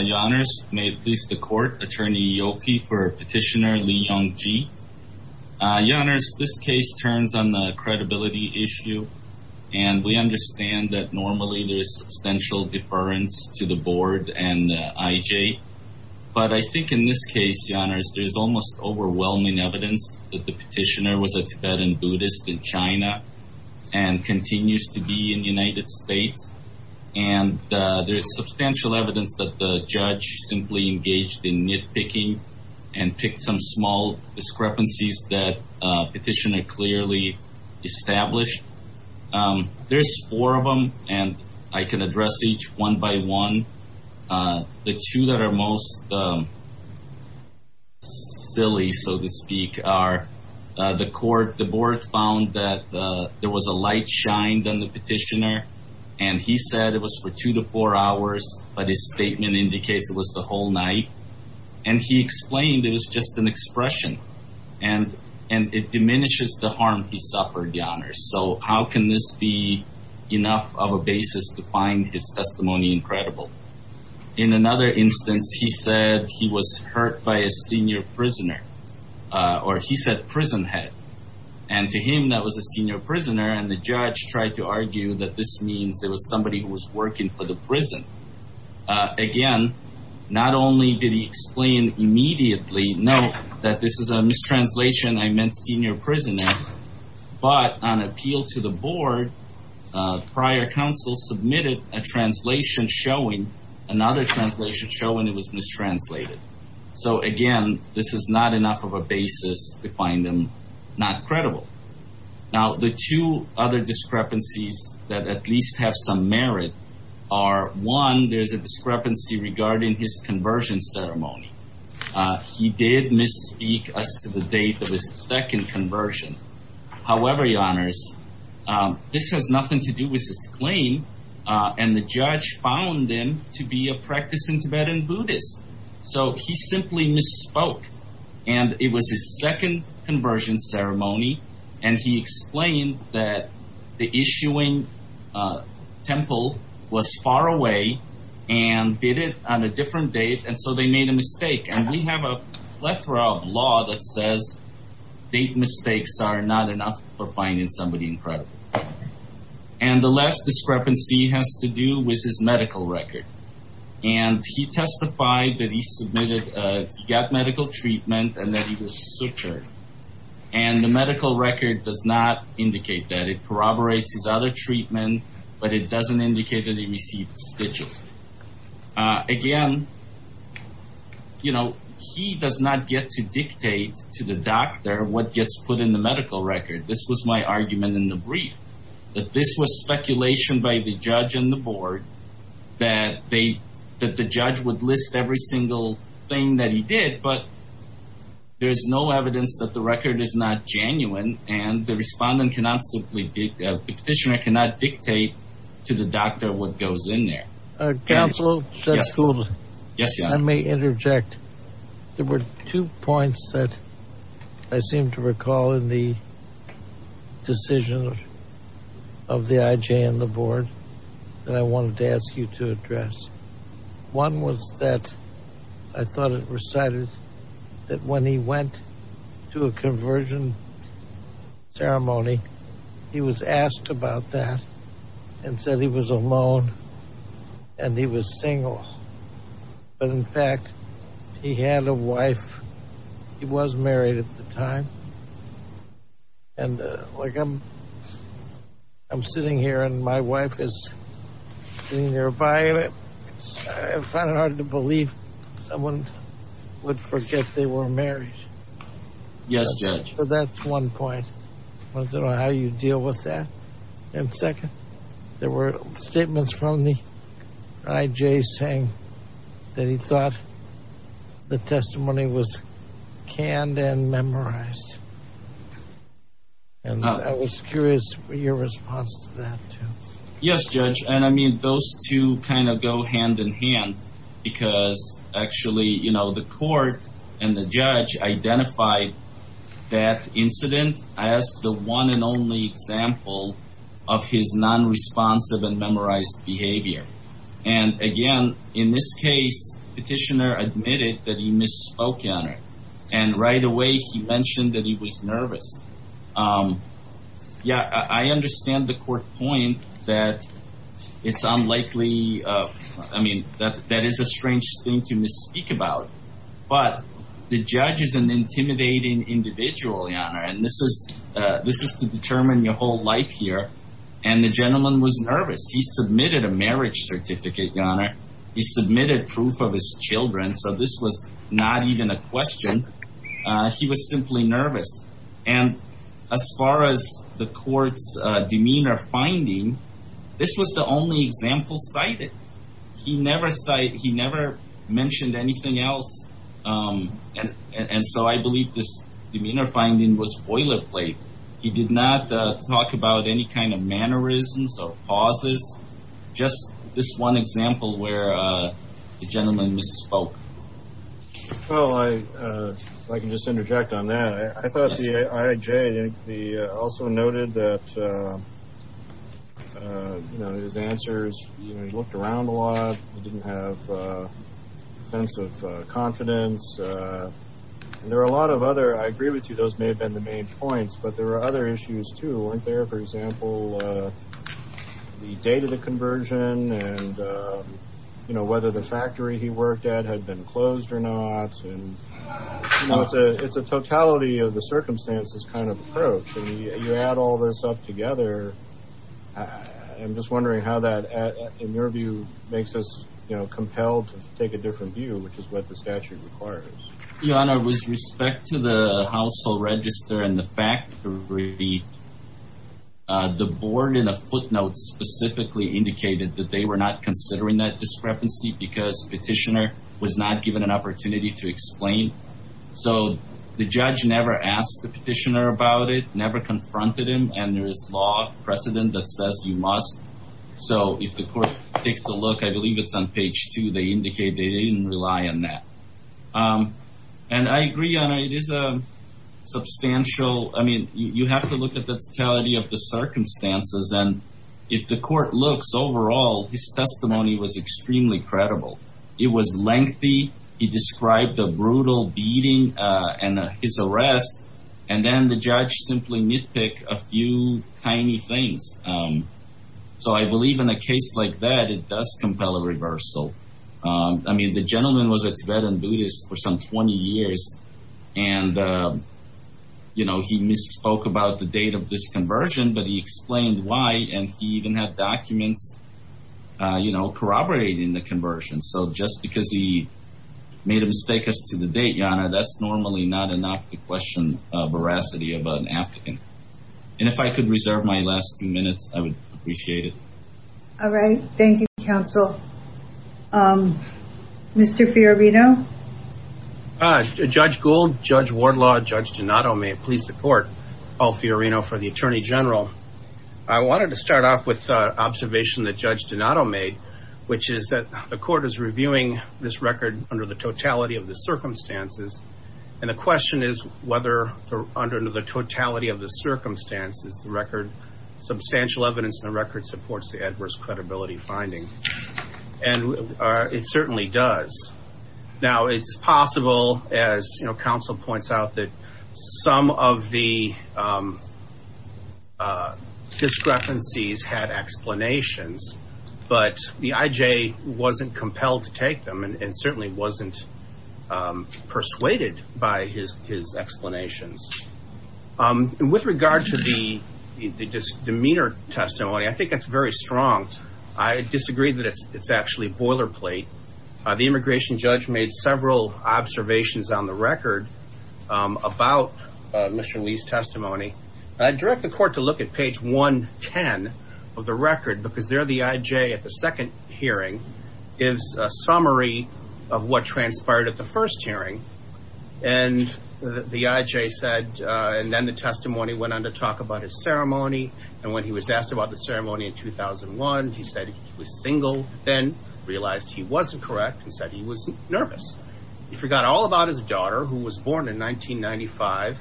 Your Honours, may it please the Court, Attorney Yoki for Petitioner Li Yongjie. Your Honours, this case turns on the credibility issue, and we understand that normally there is substantial deference to the Board and IJ. But I think in this case, Your Honours, there is almost overwhelming evidence that the petitioner was a Tibetan Buddhist in China and continues to be in the United States. And there is substantial evidence that the judge simply engaged in nitpicking and picked some small discrepancies that the petitioner clearly established. There's four of them, and I can address each one by one. The two that are most silly, so to speak, are the Court. The Board found that there was a light shined on the petitioner, and he said it was for two to four hours, but his statement indicates it was the whole night. And he explained it was just an expression, and it diminishes the harm he suffered, Your Honours. So how can this be enough of a basis to find his testimony incredible? In another instance, he said he was hurt by a senior prisoner, or he said prison head. And to him, that was a senior prisoner, and the judge tried to argue that this means it was somebody who was working for the prison. Again, not only did he explain immediately, note that this is a mistranslation, I meant senior prisoner, but on appeal to the Board, prior counsel submitted a translation showing, another translation showing it was mistranslated. So again, this is not enough of a basis to find him not credible. Now, the two other discrepancies that at least have some merit are, one, there's a discrepancy regarding his conversion ceremony. He did misspeak as to the date of his second conversion. However, Your Honours, this has nothing to do with his claim, and the judge found him to be a practicing Tibetan Buddhist. So he simply misspoke, and it was his second conversion ceremony, and he explained that the issuing temple was far away and did it on a different date, and so they made a mistake. And we have a plethora of law that says date mistakes are not enough for finding somebody incredible. And the last discrepancy has to do with his medical record. And he testified that he got medical treatment and that he was sutured. And the medical record does not indicate that. It corroborates his other treatment, but it doesn't indicate that he received stitches. Again, you know, he does not get to dictate to the doctor what gets put in the medical record. This was my argument in the brief, that this was speculation by the judge and the board, that the judge would list every single thing that he did, but there's no evidence that the record is not genuine, and the respondent cannot simply dictate, the petitioner cannot dictate to the doctor what goes in there. Counsel, I may interject. There were two points that I seem to recall in the decision of the IJ and the board that I wanted to ask you to address. One was that I thought it recited that when he went to a conversion ceremony, he was asked about that and said he was alone and he was single. But in fact, he had a wife. He was married at the time. And, like, I'm sitting here and my wife is sitting nearby, and I find it hard to believe someone would forget they were married. Yes, Judge. So that's one point. I want to know how you deal with that. And second, there were statements from the IJ saying that he thought the testimony was canned and memorized. And I was curious for your response to that, too. Yes, Judge. And, I mean, those two kind of go hand in hand, because actually, you know, the court and the judge identified that incident as the one and only example of his nonresponsive and memorized behavior. And, again, in this case, the petitioner admitted that he misspoke on it. And right away he mentioned that he was nervous. Yeah, I understand the court point that it's unlikely, I mean, that is a strange thing to misspeak about. But the judge is an intimidating individual, Your Honor, and this is to determine your whole life here. And the gentleman was nervous. He submitted a marriage certificate, Your Honor. He submitted proof of his children, so this was not even a question. He was simply nervous. And as far as the court's demeanor finding, this was the only example cited. He never mentioned anything else. And so I believe this demeanor finding was boilerplate. He did not talk about any kind of mannerisms or pauses, just this one example where the gentleman misspoke. Well, I can just interject on that. I thought the I.I.J. also noted that, you know, his answers, you know, he looked around a lot. He didn't have a sense of confidence. And there were a lot of other, I agree with you, those may have been the main points, but there were other issues, too. For example, the date of the conversion and, you know, whether the factory he worked at had been closed or not. And, you know, it's a totality of the circumstances kind of approach. And you add all this up together, I'm just wondering how that, in your view, makes us, you know, compelled to take a different view, which is what the statute requires. Your Honor, with respect to the household register and the factory, the board in a footnote specifically indicated that they were not considering that discrepancy because the petitioner was not given an opportunity to explain. So the judge never asked the petitioner about it, never confronted him, and there is law precedent that says you must. So if the court takes a look, I believe it's on page two, they indicate they didn't rely on that. And I agree, Your Honor, it is a substantial, I mean, you have to look at the totality of the circumstances. And if the court looks overall, his testimony was extremely credible. It was lengthy, he described a brutal beating and his arrest, and then the judge simply nitpicked a few tiny things. So I believe in a case like that, it does compel a reversal. I mean, the gentleman was a Tibetan Buddhist for some 20 years, and, you know, he misspoke about the date of this conversion, but he explained why. And he even had documents, you know, corroborating the conversion. So just because he made a mistake as to the date, Your Honor, that's normally not enough to question veracity about an applicant. And if I could reserve my last two minutes, I would appreciate it. All right. Thank you, counsel. Mr. Fiorino? Judge Gould, Judge Wardlaw, Judge Donato, may it please the court. Paul Fiorino for the Attorney General. I wanted to start off with an observation that Judge Donato made, which is that the court is reviewing this record under the totality of the circumstances. And the question is whether under the totality of the circumstances, the record, substantial evidence in the record supports the adverse credibility finding. And it certainly does. Now, it's possible, as counsel points out, that some of the discrepancies had explanations, but the IJ wasn't compelled to take them and certainly wasn't persuaded by his explanations. And with regard to the demeanor testimony, I think that's very strong. I disagree that it's actually a boilerplate. The immigration judge made several observations on the record about Mr. Lee's testimony. I direct the court to look at page 110 of the record because there the IJ at the second hearing gives a summary of what transpired at the first hearing. And the IJ said, and then the testimony went on to talk about his ceremony. And when he was asked about the ceremony in 2001, he said he was single, then realized he wasn't correct and said he was nervous. He forgot all about his daughter, who was born in 1995,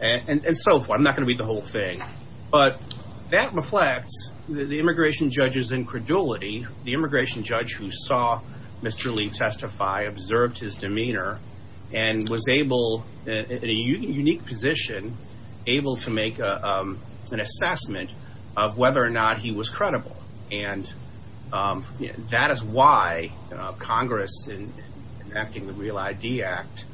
and so forth. I'm not going to read the whole thing, but that reflects the immigration judge's incredulity. The immigration judge who saw Mr. Lee testify observed his demeanor and was able, in a unique position, able to make an assessment of whether or not he was credible. And that is why Congress, in enacting the Real ID Act,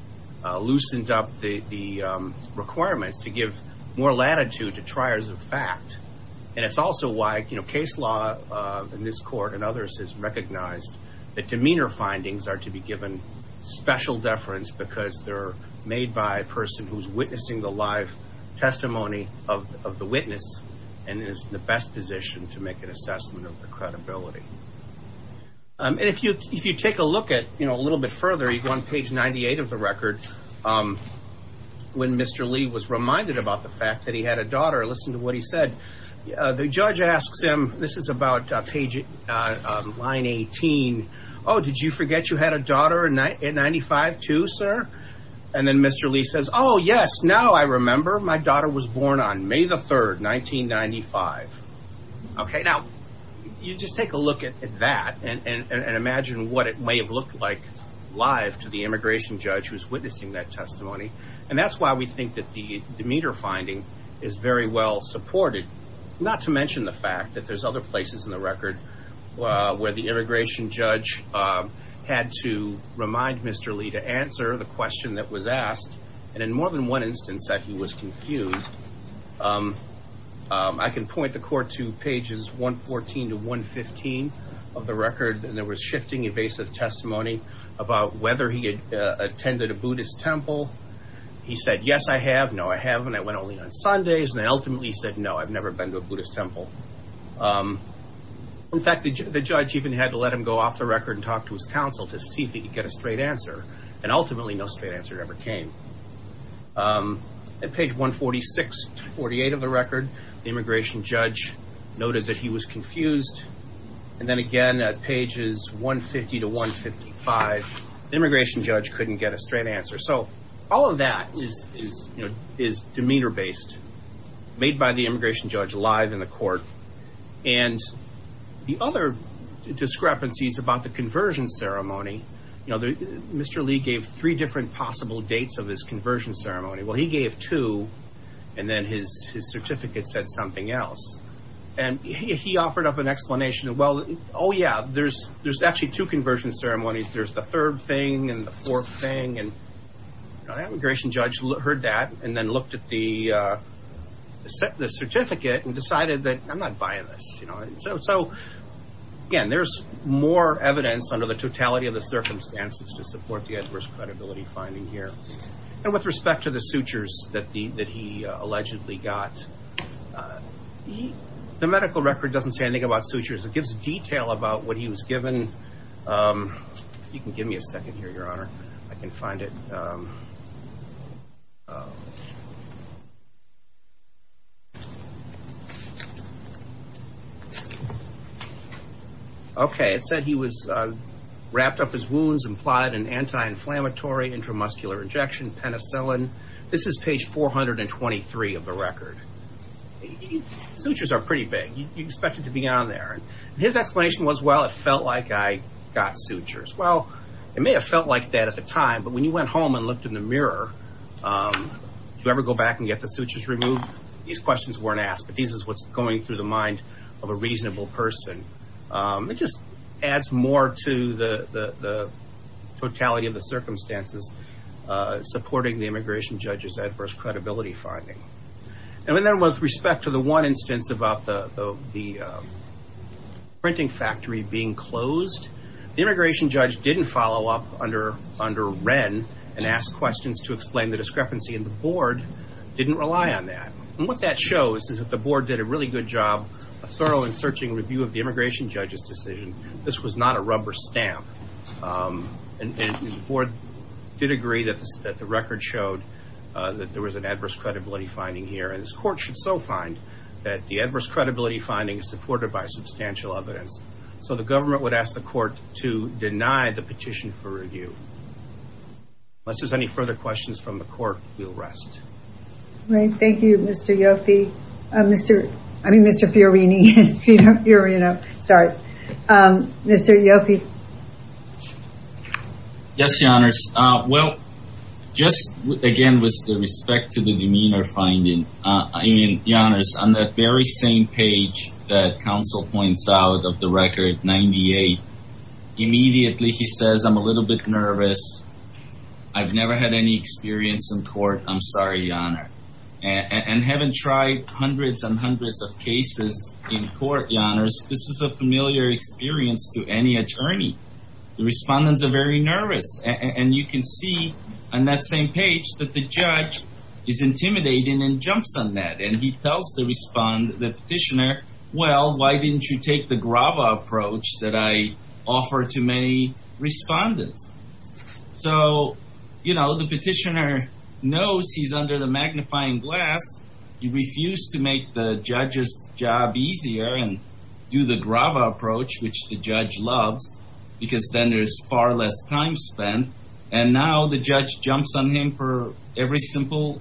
loosened up the requirements to give more latitude to triers of fact. And it's also why, you know, case law in this court and others has recognized that demeanor findings are to be given special deference because they're made by a person who's witnessing the live testimony of the witness and is in the best position to make an assessment of the credibility. And if you take a look at, you know, a little bit further, you go on page 98 of the record, when Mr. Lee was reminded about the fact that he had a daughter, listen to what he said. The judge asks him, this is about line 18, Oh, did you forget you had a daughter in 95 too, sir? And then Mr. Lee says, Oh, yes, now I remember. My daughter was born on May the 3rd, 1995. OK, now you just take a look at that and imagine what it may have looked like live to the immigration judge who's witnessing that testimony. And that's why we think that the demeanor finding is very well supported, not to mention the fact that there's other places in the record where the immigration judge had to remind Mr. Lee to answer the question that was asked. And in more than one instance that he was confused, I can point the court to pages 114 to 115 of the record. And there was shifting evasive testimony about whether he had attended a Buddhist temple. He said, Yes, I have. No, I haven't. I went only on Sundays. And ultimately he said, No, I've never been to a Buddhist temple. In fact, the judge even had to let him go off the record and talk to his counsel to see if he could get a straight answer. And ultimately, no straight answer ever came. At page 146 to 148 of the record, the immigration judge noted that he was confused. And then again, at pages 150 to 155, the immigration judge couldn't get a straight answer. So all of that is demeanor based, made by the immigration judge live in the court. And the other discrepancies about the conversion ceremony, Mr. Lee gave three different possible dates of his conversion ceremony. Well, he gave two, and then his certificate said something else. And he offered up an explanation. Well, oh, yeah, there's actually two conversion ceremonies. There's the third thing and the fourth thing. And the immigration judge heard that and then looked at the certificate and decided that I'm not buying this. So, again, there's more evidence under the totality of the circumstances to support the adverse credibility finding here. And with respect to the sutures that he allegedly got, the medical record doesn't say anything about sutures. It gives detail about what he was given. You can give me a second here, Your Honor. I can find it. Okay, it said he was wrapped up his wounds and applied an anti-inflammatory intramuscular injection, penicillin. This is page 423 of the record. Sutures are pretty big. You expect it to be on there. And his explanation was, well, it felt like I got sutures. Well, it may have felt like that at the time, but when you went home and looked in the mirror, did you ever go back and get the sutures removed? These questions weren't asked, but this is what's going through the mind of a reasonable person. It just adds more to the totality of the circumstances supporting the immigration judge's adverse credibility finding. And then with respect to the one instance about the printing factory being closed, the immigration judge didn't follow up under Wren and ask questions to explain the discrepancy, and the board didn't rely on that. And what that shows is that the board did a really good job, a thorough and searching review of the immigration judge's decision. This was not a rubber stamp. And the board did agree that the record showed that there was an adverse credibility finding here, and this court should so find that the adverse credibility finding is supported by substantial evidence. So the government would ask the court to deny the petition for review. Unless there's any further questions from the court, we'll rest. All right. Thank you, Mr. Fiorini. Sorry. Mr. Ioffe. Yes, Your Honors. Well, just again with respect to the demeanor finding, Your Honors, on that very same page that counsel points out of the record, 98, immediately he says, I'm a little bit nervous. I've never had any experience in court. I'm sorry, Your Honor. And haven't tried hundreds and hundreds of cases in court, Your Honors. This is a familiar experience to any attorney. The respondents are very nervous. And you can see on that same page that the judge is intimidating and jumps on that. And he tells the petitioner, well, why didn't you take the grava approach that I offered to many respondents? So, you know, the petitioner knows he's under the magnifying glass. He refused to make the judge's job easier and do the grava approach, which the judge loves, because then there's far less time spent. And now the judge jumps on him for every simple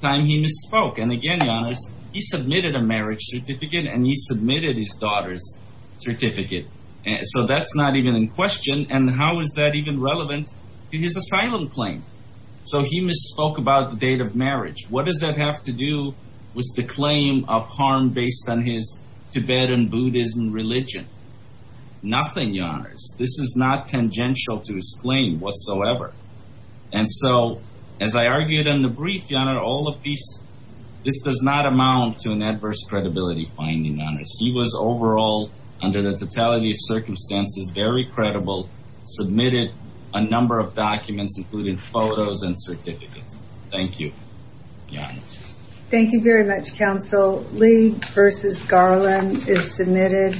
time he misspoke. And again, Your Honors, he submitted a marriage certificate and he submitted his daughter's certificate. So that's not even in question. And how is that even relevant to his asylum claim? So he misspoke about the date of marriage. What does that have to do with the claim of harm based on his Tibetan Buddhism religion? Nothing, Your Honors. This is not tangential to his claim whatsoever. And so, as I argued in the brief, Your Honor, all of these, this does not amount to an adverse credibility finding, Your Honors. He was overall, under the totality of circumstances, very credible, submitted a number of documents, including photos and certificates. Thank you. Thank you very much, counsel. Lee versus Garland is submitted.